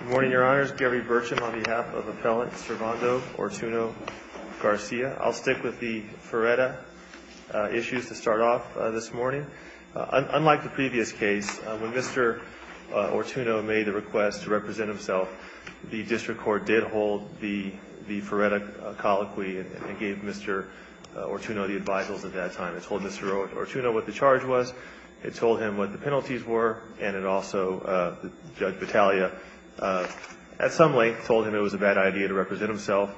Good morning, Your Honors. Gary Burcham on behalf of Appellant Servando Ortuno-Garcia. I'll stick with the Ferretta issues to start off this morning. Unlike the previous case, when Mr. Ortuno made the request to represent himself, the district court did hold the Ferretta colloquy and gave Mr. Ortuno the advisals at that time. It told Mr. Ortuno what the charge was, it told him what the penalties were, and it also, Judge Battaglia, at some length, told him it was a bad idea to represent himself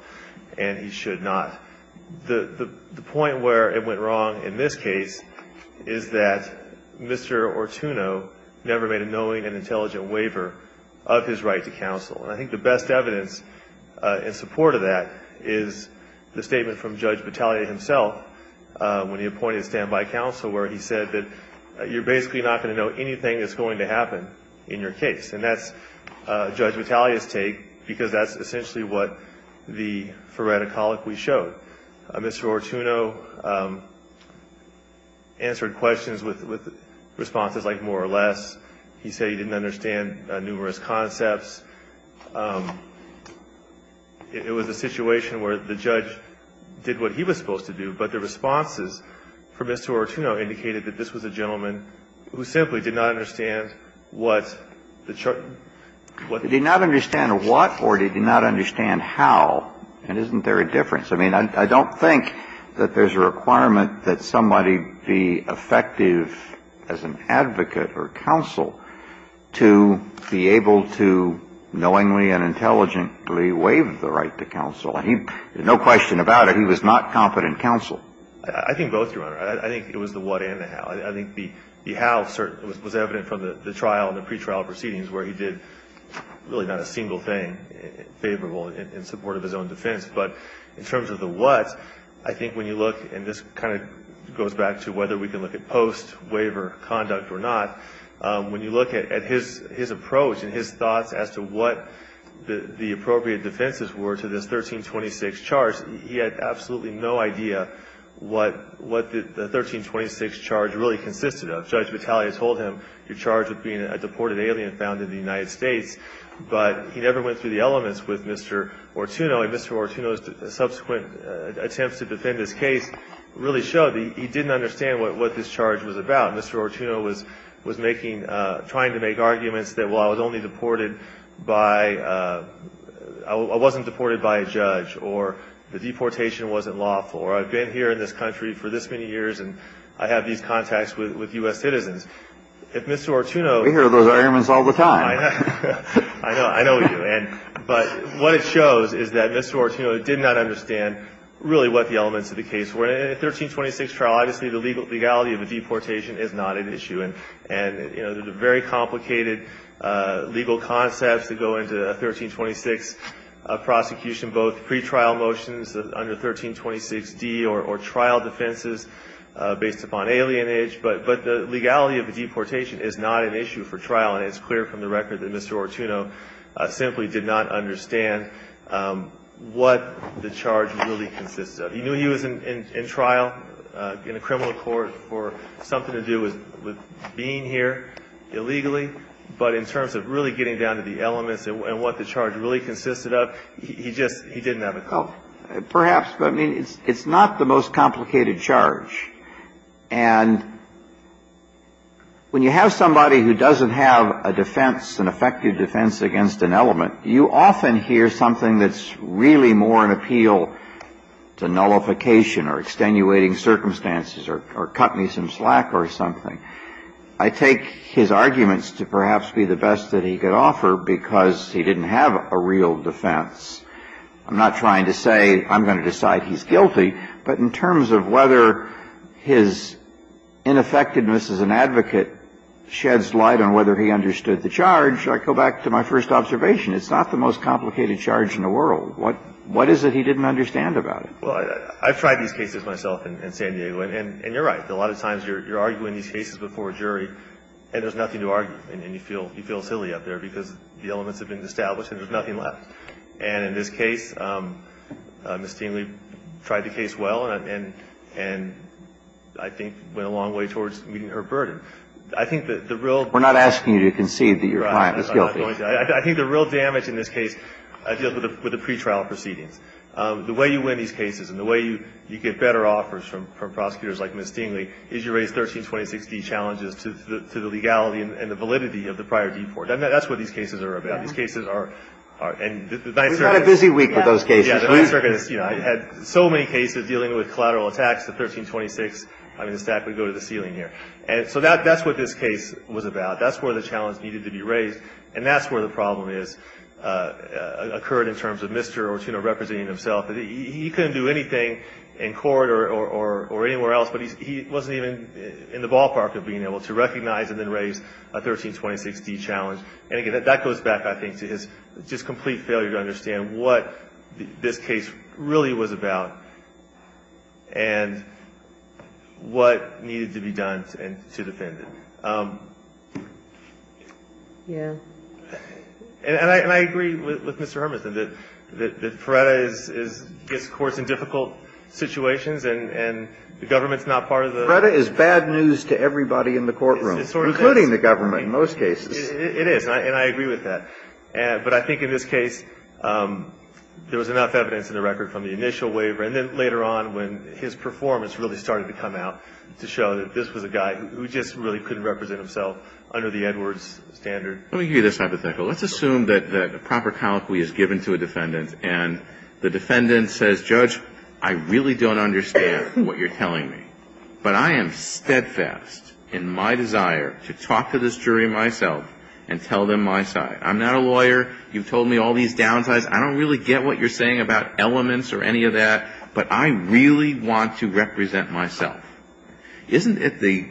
and he should not. The point where it went wrong in this case is that Mr. Ortuno never made a knowing and intelligent waiver of his right to counsel. And I think the best evidence in support of that is the statement from Judge Battaglia himself when he appointed a standby counsel where he said that you're basically not going to know anything that's going to happen in your case. And that's Judge Battaglia's take because that's essentially what the Ferretta colloquy showed. Mr. Ortuno answered questions with responses like more or less. He said he didn't understand numerous concepts. It was a situation where the judge did what he was supposed to do, but the responses from Mr. Ortuno indicated that this was a gentleman who simply did not understand what the charge was. He did not understand what or did he not understand how, and isn't there a difference? I mean, I don't think that there's a requirement that somebody be effective as an advocate or counsel to be able to knowingly and intelligently waive the right to counsel. No question about it, he was not competent counsel. I think both, Your Honor. I think it was the what and the how. I think the how was evident from the trial and the pretrial proceedings where he did really not a single thing favorable in support of his own defense. But in terms of the what, I think when you look, and this kind of goes back to whether we can look at post-waiver conduct or not, when you look at his approach and his thoughts as to what the appropriate defenses were to this 1326 charge, he had absolutely no idea what the 1326 charge really consisted of. Judge Battaglia told him you're charged with being a deported alien found in the United States, but he never went through the elements with Mr. Ortuno. subsequent attempts to defend his case really showed he didn't understand what this charge was about. Mr. Ortuno was making, trying to make arguments that, well, I was only deported by, I wasn't deported by a judge, or the deportation wasn't lawful, or I've been here in this country for this many years and I have these contacts with U.S. citizens. If Mr. Ortuno. We hear those arguments all the time. I know you. But what it shows is that Mr. Ortuno did not understand really what the elements of the case were. In a 1326 trial, obviously the legality of a deportation is not an issue. And, you know, the very complicated legal concepts that go into a 1326 prosecution, both pretrial motions under 1326d or trial defenses based upon alienage, but the legality of a deportation is not an issue for trial, and it's clear from the record that Mr. Ortuno simply did not understand what the charge really consisted of. He knew he was in trial in a criminal court for something to do with being here illegally, but in terms of really getting down to the elements and what the charge really consisted of, he just, he didn't have a clue. Perhaps, but, I mean, it's not the most complicated charge. And when you have somebody who doesn't have a defense, an effective defense against an element, you often hear something that's really more an appeal to nullification or extenuating circumstances or cut me some slack or something. I take his arguments to perhaps be the best that he could offer because he didn't have a real defense. I'm not trying to say I'm going to decide he's guilty, but in terms of whether his ineffectiveness as an advocate sheds light on whether he understood the charge, I go back to my first observation. It's not the most complicated charge in the world. What is it he didn't understand about it? Well, I've tried these cases myself in San Diego, and you're right. A lot of times you're arguing these cases before a jury and there's nothing to argue. And you feel silly up there because the elements have been established and there's nothing left. And in this case, Ms. Stingley tried the case well and I think went a long way towards meeting her burden. I think that the real – We're not asking you to concede that your client is guilty. I think the real damage in this case deals with the pretrial proceedings. The way you win these cases and the way you get better offers from prosecutors like Ms. Stingley is you raise 1326D challenges to the legality and the validity of the prior deport. That's what these cases are about. These cases are – We've had a busy week with those cases. Yeah. I had so many cases dealing with collateral attacks, the 1326, I mean, the stack would go to the ceiling here. So that's what this case was about. That's where the challenge needed to be raised. And that's where the problem occurred in terms of Mr. Ortuna representing himself. He couldn't do anything in court or anywhere else, but he wasn't even in the ballpark of being able to recognize and then raise a 1326D challenge. And, again, that goes back, I think, to his just complete failure to understand what this case really was about and what needed to be done to defend it. Yeah. And I agree with Mr. Hermanson that FREDA gets courts in difficult situations and the government's not part of the – FREDA is bad news to everybody in the courtroom, including the government in most cases. It is, and I agree with that. But I think in this case there was enough evidence in the record from the initial waiver and then later on when his performance really started to come out to show that this was a guy who just really couldn't represent himself under the Edwards standard. Let me give you this hypothetical. Let's assume that a proper colloquy is given to a defendant and the defendant says, Judge, I really don't understand what you're telling me, but I am steadfast in my desire to talk to this jury myself and tell them my side. I'm not a lawyer. You've told me all these downsides. I don't really get what you're saying about elements or any of that, but I really want to represent myself. Isn't it the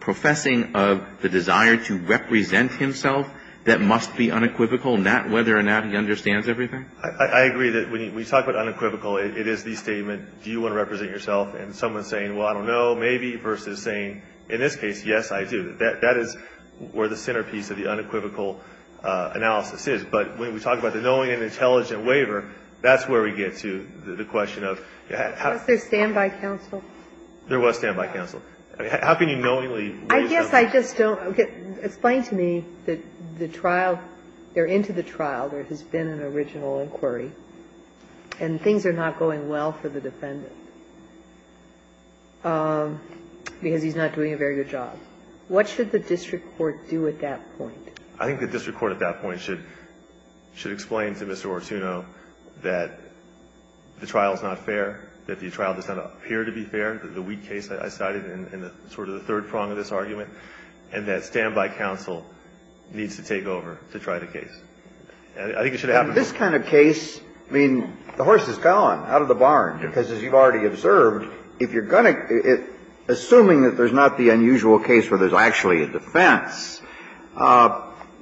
professing of the desire to represent himself that must be unequivocal, whether or not he understands everything? I agree that when you talk about unequivocal, it is the statement, do you want to represent yourself, and someone saying, well, I don't know, maybe, versus saying, in this case, yes, I do. That is where the centerpiece of the unequivocal analysis is. But when we talk about the knowing and intelligent waiver, that's where we get to the question of how to do that. Was there standby counsel? There was standby counsel. How can you knowingly leave them? I guess I just don't. Explain to me that the trial or into the trial there has been an original inquiry and things are not going well for the defendant. Because he's not doing a very good job. What should the district court do at that point? I think the district court at that point should explain to Mr. Ortuno that the trial is not fair, that the trial does not appear to be fair, the weak case I cited in sort of the third prong of this argument, and that standby counsel needs to take over to try the case. I think it should happen. In this kind of case, I mean, the horse is gone out of the barn, because as you've already observed, if you're going to assuming that there's not the unusual case where there's actually a defense,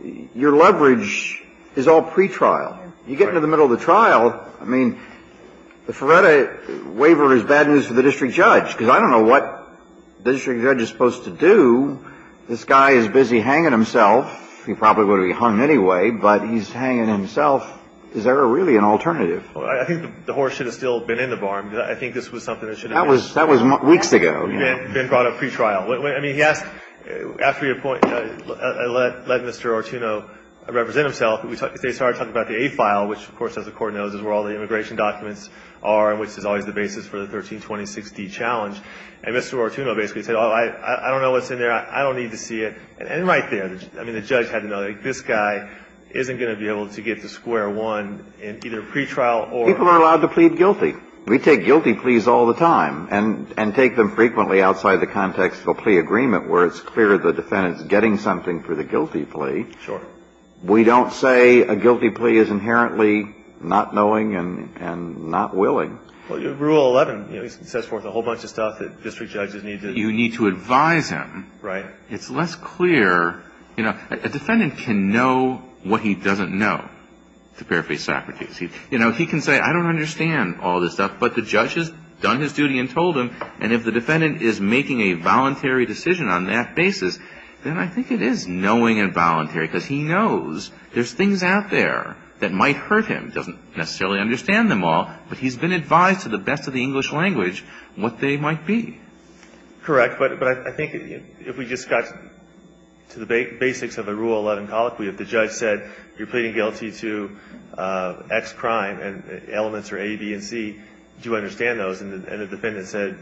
your leverage is all pretrial. You get into the middle of the trial, I mean, the Ferretta waiver is bad news for the district judge, because I don't know what the district judge is supposed to do. This guy is busy hanging himself. He probably would have been hung anyway, but he's hanging himself. Is there really an alternative? Well, I think the horse should have still been in the barn. I think this was something that should have been done. That was weeks ago. It had been brought up pretrial. I mean, he asked, after your point, let Mr. Ortuno represent himself. They started talking about the A file, which, of course, as the Court knows, is where all the immigration documents are and which is always the basis for the 13206d challenge. And Mr. Ortuno basically said, oh, I don't know what's in there. I don't need to see it. And right there, I mean, the judge had to know that this guy isn't going to be able to get to square one in either pretrial or ---- People are allowed to plead guilty. We take guilty pleas all the time and take them frequently outside the context of a plea agreement, where it's clear the defendant is getting something for the guilty plea. Sure. We don't say a guilty plea is inherently not knowing and not willing. Rule 11, you know, sets forth a whole bunch of stuff that district judges need to ---- You need to advise him. Right. It's less clear. You know, a defendant can know what he doesn't know, to paraphrase Socrates. You know, he can say, I don't understand all this stuff, but the judge has done his duty and told him, and if the defendant is making a voluntary decision on that basis, then I think it is knowing and voluntary because he knows there's things out there that might hurt him. He doesn't necessarily understand them all, but he's been advised to the best of the English language what they might be. Correct. But I think if we just got to the basics of the Rule 11 colloquy, if the judge said, you're pleading guilty to X crime and elements are A, B, and C, do you understand those? And the defendant said,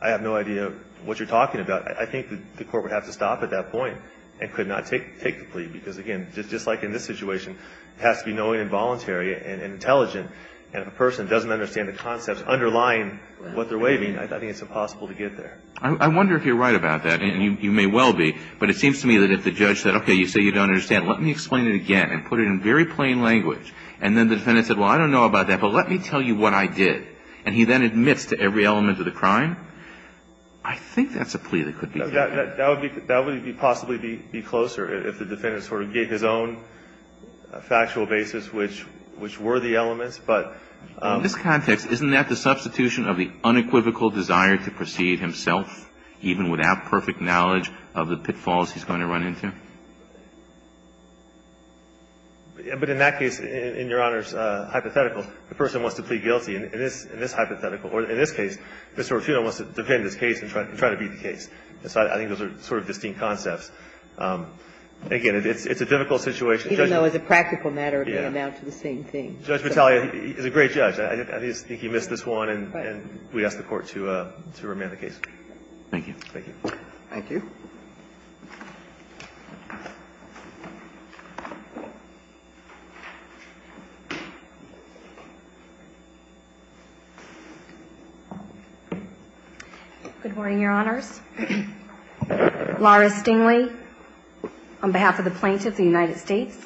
I have no idea what you're talking about. I think the court would have to stop at that point and could not take the plea because, again, just like in this situation, it has to be knowing and voluntary and intelligent. And if a person doesn't understand the concepts underlying what they're waiving, I think it's impossible to get there. I wonder if you're right about that, and you may well be, but it seems to me that if the judge said, okay, you say you don't understand. Let me explain it again and put it in very plain language. And then the defendant said, well, I don't know about that, but let me tell you what I did. And he then admits to every element of the crime. I think that's a plea that could be made. That would possibly be closer if the defendant sort of gave his own factual basis which were the elements. But in this context, isn't that the substitution of the unequivocal desire to perceive himself even without perfect knowledge of the pitfalls he's going to run into? But in that case, in Your Honor's hypothetical, the person wants to plead guilty in this hypothetical. Or in this case, Mr. Ortuno wants to defend his case and try to beat the case. I think those are sort of distinct concepts. Again, it's a difficult situation. Even though as a practical matter, they amount to the same thing. Judge Battaglia is a great judge. I think he missed this one, and we ask the Court to remand the case. Thank you. Thank you. Thank you. Good morning, Your Honors. Laura Stingley on behalf of the plaintiff, the United States.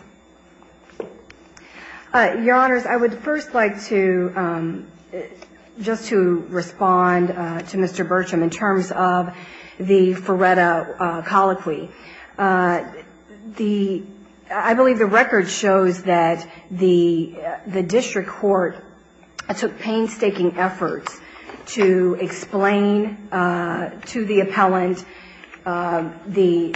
Your Honors, I would first like to just to respond to Mr. Burcham in terms of the Ferretta colloquy. The – I believe the record shows that the district court took painstaking efforts to explain to the appellant the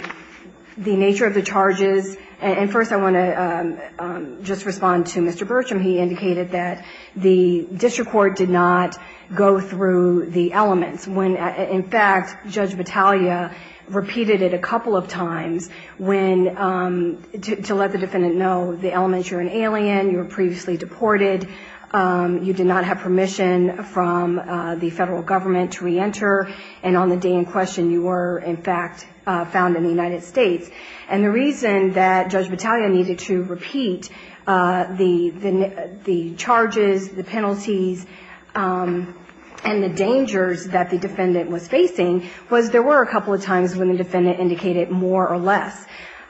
nature of the charges. And first, I want to just respond to Mr. Burcham. He indicated that the district court did not go through the elements. When, in fact, Judge Battaglia repeated it a couple of times when – to let the defendant know the elements. You're an alien. You were previously deported. You did not have permission from the federal government to reenter. And on the day in question, you were, in fact, found in the United States. And the reason that Judge Battaglia needed to repeat the charges, the penalties, and the dangers that the defendant was facing was there were a couple of times when the defendant indicated more or less.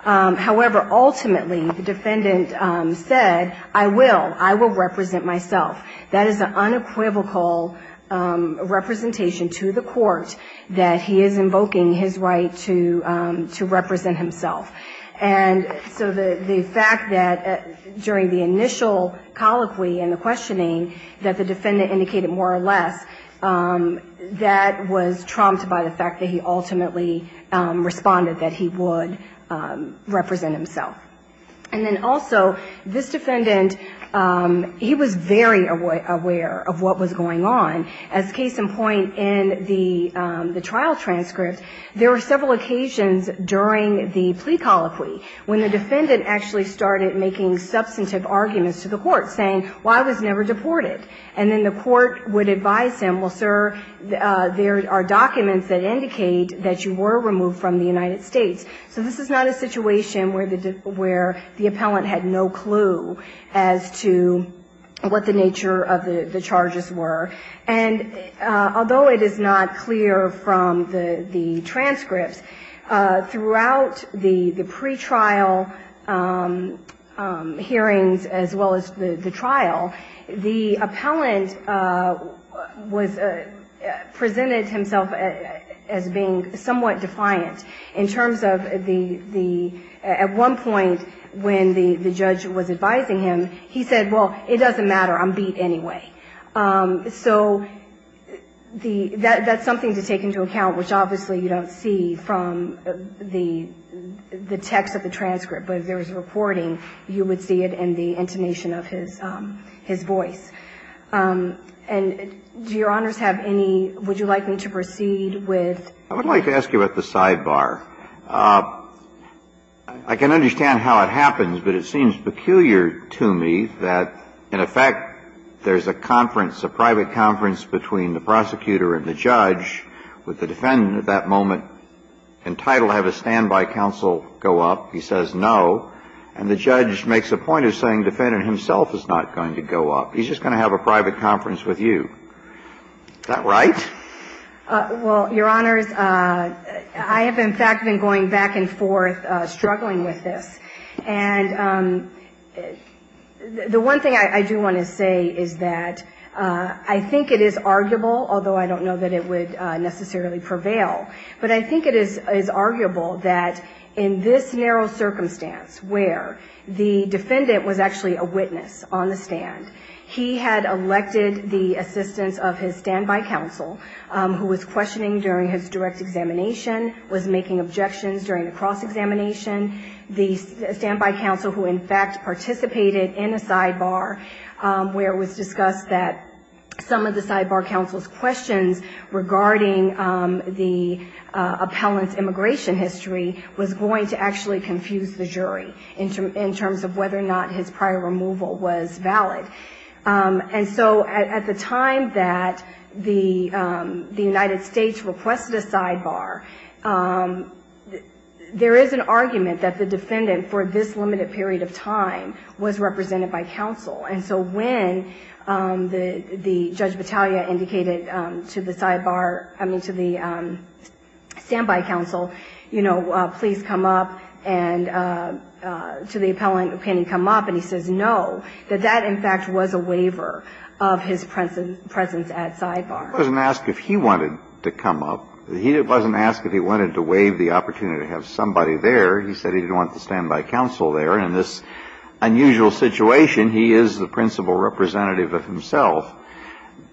However, ultimately, the defendant said, I will. I will represent myself. That is an unequivocal representation to the court that he is invoking his right to represent himself. And so the fact that during the initial colloquy and the questioning that the defendant indicated more or less, that was trumped by the fact that he ultimately responded that he would represent himself. And then also, this defendant, he was very aware of what was going on. As case in point in the trial transcript, there were several occasions during the plea colloquy when the defendant actually started making substantive arguments to the court saying, well, I was never deported. And then the court would advise him, well, sir, there are documents that indicate that you were removed from the United States. So this is not a situation where the appellant had no clue as to what the nature of the charges were. And although it is not clear from the transcripts, throughout the pretrial hearings as well as the trial, the appellant presented himself as being somewhat defiant in terms of the at one point when the judge was advising him, he said, well, it doesn't matter. I'm beat anyway. So the that's something to take into account, which obviously you don't see from the text of the transcript. But if there was a reporting, you would see it in the intonation of his voice. And do Your Honors have any, would you like me to proceed with? I would like to ask you about the sidebar. I can understand how it happens, but it seems peculiar to me that, in effect, there's a conference, a private conference between the prosecutor and the judge with the defendant at that moment entitled to have a standby counsel go up. He says no. And the judge makes a point of saying the defendant himself is not going to go up. He's just going to have a private conference with you. Is that right? Well, Your Honors, I have, in fact, been going back and forth struggling with this. And the one thing I do want to say is that I think it is arguable, although I don't know that it would necessarily prevail, but I think it is arguable that in this narrow circumstance where the defendant was actually a witness on the stand, he had elected the assistance of his standby counsel who was questioning during his direct examination, was making objections during the cross-examination. The standby counsel who, in fact, participated in a sidebar where it was discussed that some of the sidebar counsel's questions regarding the appellant's immigration history was going to actually confuse the jury in terms of whether or not his prior removal was valid. And so at the time that the United States requested a sidebar, there is an argument that the defendant for this limited period of time was represented by counsel. And so when the Judge Battaglia indicated to the sidebar, I mean, to the standby counsel, you know, please come up and to the appellant, can he come up, and he says no, that that, in fact, was a waiver of his presence at sidebar. He wasn't asked if he wanted to come up. He wasn't asked if he wanted to waive the opportunity to have somebody there. He said he didn't want the standby counsel there. And in this unusual situation, he is the principal representative of himself.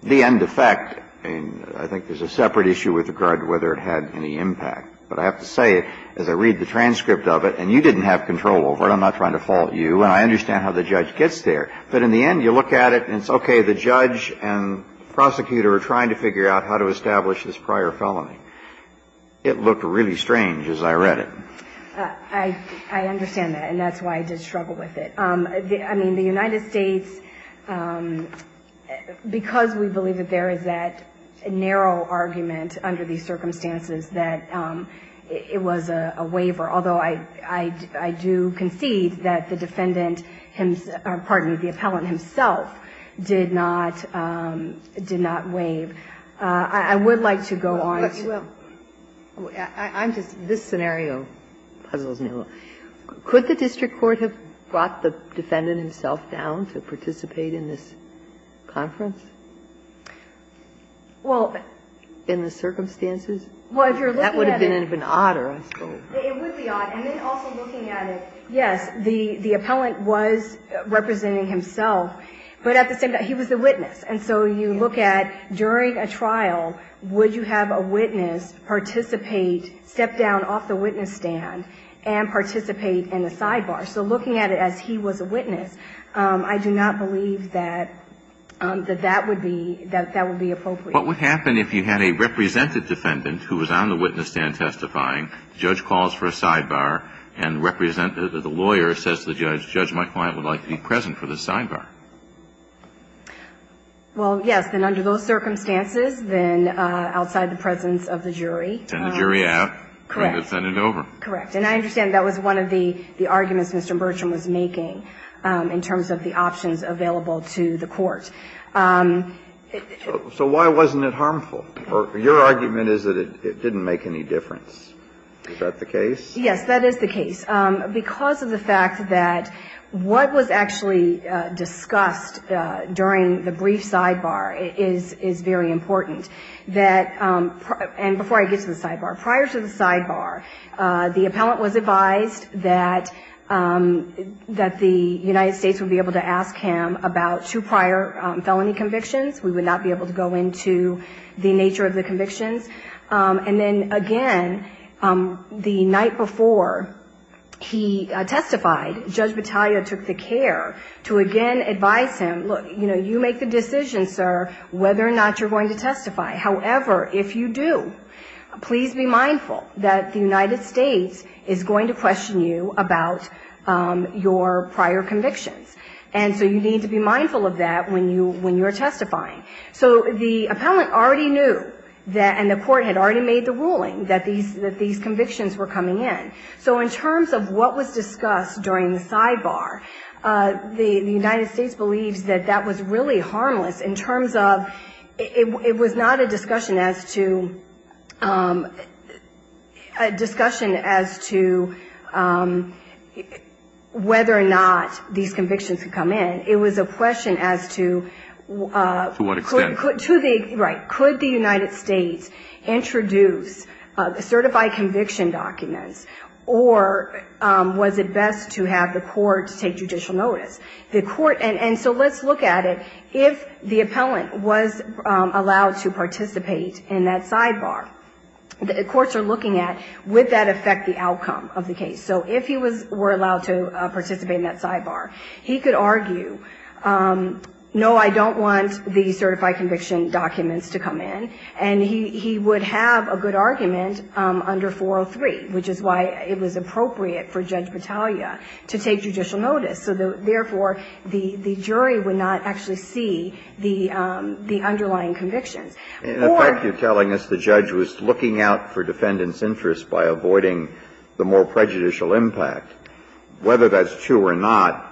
The end effect, I mean, I think there's a separate issue with regard to whether it had any impact. But I have to say, as I read the transcript of it, and you didn't have control over it, I'm not trying to fault you, and I understand how the judge gets there. But in the end, you look at it, and it's okay, the judge and the prosecutor are trying to figure out how to establish this prior felony. It looked really strange as I read it. I understand that, and that's why I did struggle with it. I mean, the United States, because we believe that there is that narrow argument under these circumstances that it was a waiver, although I do concede that the defendant himself or, pardon me, the appellant himself did not waive. I would like to go on. I'm just, this scenario puzzles me a little. Could the district court have brought the defendant himself down to participate in this conference? In the circumstances? That would have been even odder, I suppose. It would be odd. And then also looking at it, yes, the appellant was representing himself, but at the same time, he was the witness. And so you look at, during a trial, would you have a witness participate, step down off the witness stand, and participate in the sidebar? So looking at it as he was a witness, I do not believe that that would be appropriate. What would happen if you had a represented defendant who was on the witness stand testifying, the judge calls for a sidebar, and the lawyer says to the judge, my client would like to be present for the sidebar? Well, yes. Then under those circumstances, then outside the presence of the jury. And the jury would have the defendant over. Correct. And I understand that was one of the arguments Mr. Burcham was making in terms of the options available to the court. So why wasn't it harmful? Your argument is that it didn't make any difference. Is that the case? Yes, that is the case. Because of the fact that what was actually discussed during the brief sidebar is very important. And before I get to the sidebar, prior to the sidebar, the appellant was advised that the United States would be able to ask him about two prior felony convictions. We would not be able to go into the nature of the convictions. And then, again, the night before he testified, Judge Battaglia took the care to again advise him, look, you make the decision, sir, whether or not you're going to testify. However, if you do, please be mindful that the United States is going to question you about your prior convictions. And so you need to be mindful of that when you're testifying. So the appellant already knew and the court had already made the ruling that these convictions were coming in. So in terms of what was discussed during the sidebar, the United States believes that that was really harmless in terms of it was not a discussion as to whether or not these convictions could come in. It was a question as to could the United States introduce certified conviction documents, or was it best to have the court take judicial notice. And so let's look at it. If the appellant was allowed to participate in that sidebar, the courts are looking at would that affect the outcome of the case. So if he were allowed to participate in that sidebar, he could argue, no, I don't want the certified conviction documents to come in. And he would have a good argument under 403, which is why it was appropriate for Judge Battaglia to take judicial notice. So therefore, the jury would not actually see the underlying convictions. Or the judge was looking out for defendant's interest by avoiding the more prejudicial impact. Whether that's true or not,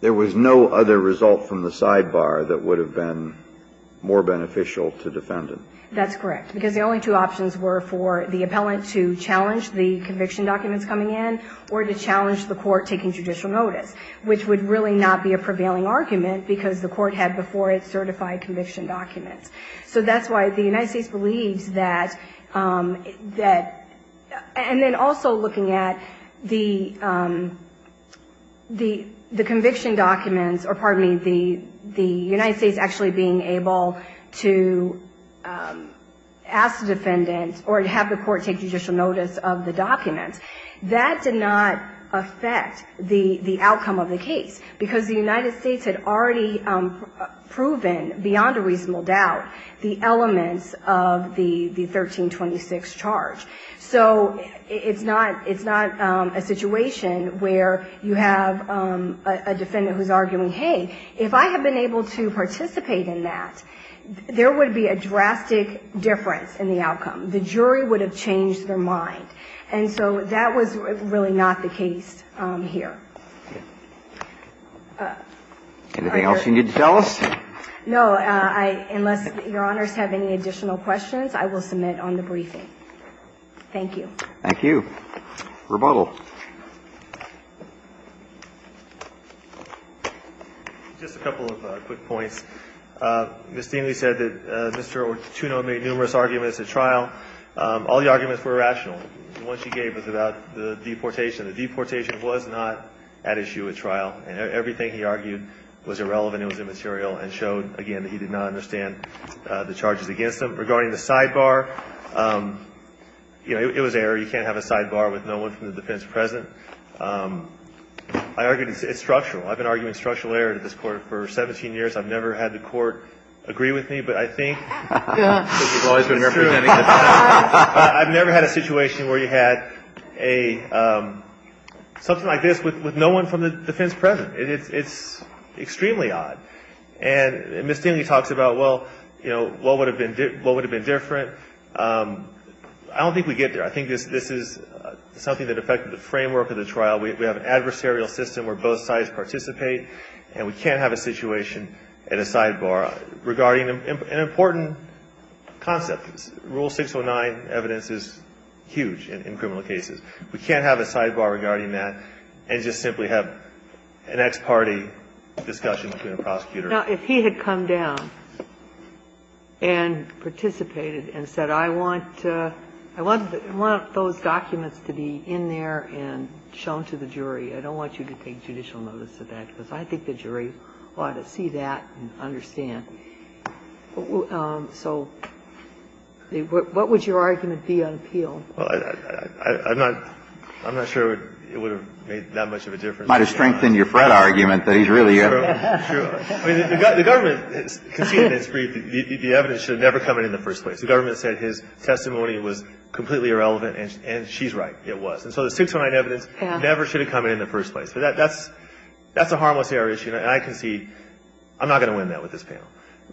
there was no other result from the sidebar that would have been more beneficial to defendant. That's correct. Because the only two options were for the appellant to challenge the conviction documents coming in or to challenge the court taking judicial notice, which would really not be a prevailing argument because the court had before it certified conviction documents. So that's why the United States believes that, and then also looking at the conviction documents, or pardon me, the United States actually being able to ask the defendant or have the court take judicial notice of the documents, that did not affect the outcome of the case. Because the United States had already proven beyond a reasonable doubt the elements of the 1326 charge. So it's not a situation where you have a defendant who's arguing, hey, if I have been able to participate in that, there would be a drastic difference in the outcome. The jury would have changed their mind. And so that was really not the case here. Anything else you need to tell us? No. Unless Your Honors have any additional questions, I will submit on the briefing. Thank you. Thank you. Rebuttal. Just a couple of quick points. Ms. Deanley said that Mr. Ortuno made numerous arguments at trial. All the arguments were rational. The one she gave was about the deportation. The deportation was not at issue at trial. And everything he argued was irrelevant, it was immaterial, and showed, again, that he did not understand the charges against him. Regarding the sidebar, you know, it was error. You can't have a sidebar with no one from the defendant's present. I argued it's structural. I've been arguing structural error to this Court for 17 years. I've never had the Court agree with me. But I think it's true. I've never had a situation where you had something like this with no one from the defendant's present. It's extremely odd. And Ms. Deanley talks about, well, you know, what would have been different. I don't think we get there. I think this is something that affected the framework of the trial. We have an adversarial system where both sides participate, and we can't have a situation at a sidebar regarding an important concept. Rule 609 evidence is huge in criminal cases. We can't have a sidebar regarding that and just simply have an ex parte discussion between a prosecutor. Now, if he had come down and participated and said, I want those documents to be in there and shown to the jury, I don't want you to take judicial notice of that, because I think the jury ought to see that and understand. So what would your argument be on appeal? Well, I'm not sure it would have made that much of a difference. It might have strengthened your Fred argument that he's really a ---- True. The government conceded in its brief that the evidence should have never come in in the first place. The government said his testimony was completely irrelevant, and she's right. It was. And so the 609 evidence never should have come in in the first place. That's a harmless error issue, and I concede. I'm not going to win that with this panel.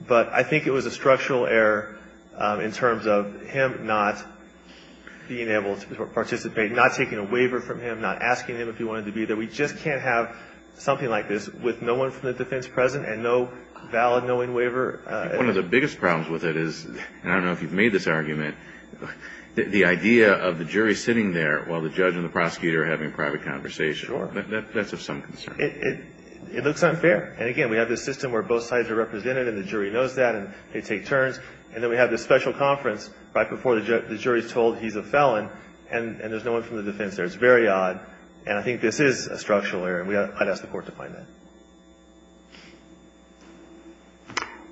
But I think it was a structural error in terms of him not being able to participate, not taking a waiver from him, not asking him if he wanted to be there. We just can't have something like this with no one from the defense present and no valid knowing waiver. One of the biggest problems with it is, and I don't know if you've made this argument, the idea of the jury sitting there while the judge and the prosecutor are having a private conversation. Sure. That's of some concern. It looks unfair. And, again, we have this system where both sides are represented and the jury knows that and they take turns. And then we have this special conference right before the jury is told he's a felon, and there's no one from the defense there. It's very odd. And I think this is a structural error, and I'd ask the Court to find that.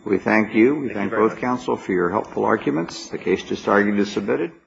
We thank you. Thank you very much. Thank you, counsel, for your helpful arguments. The case to start is submitted.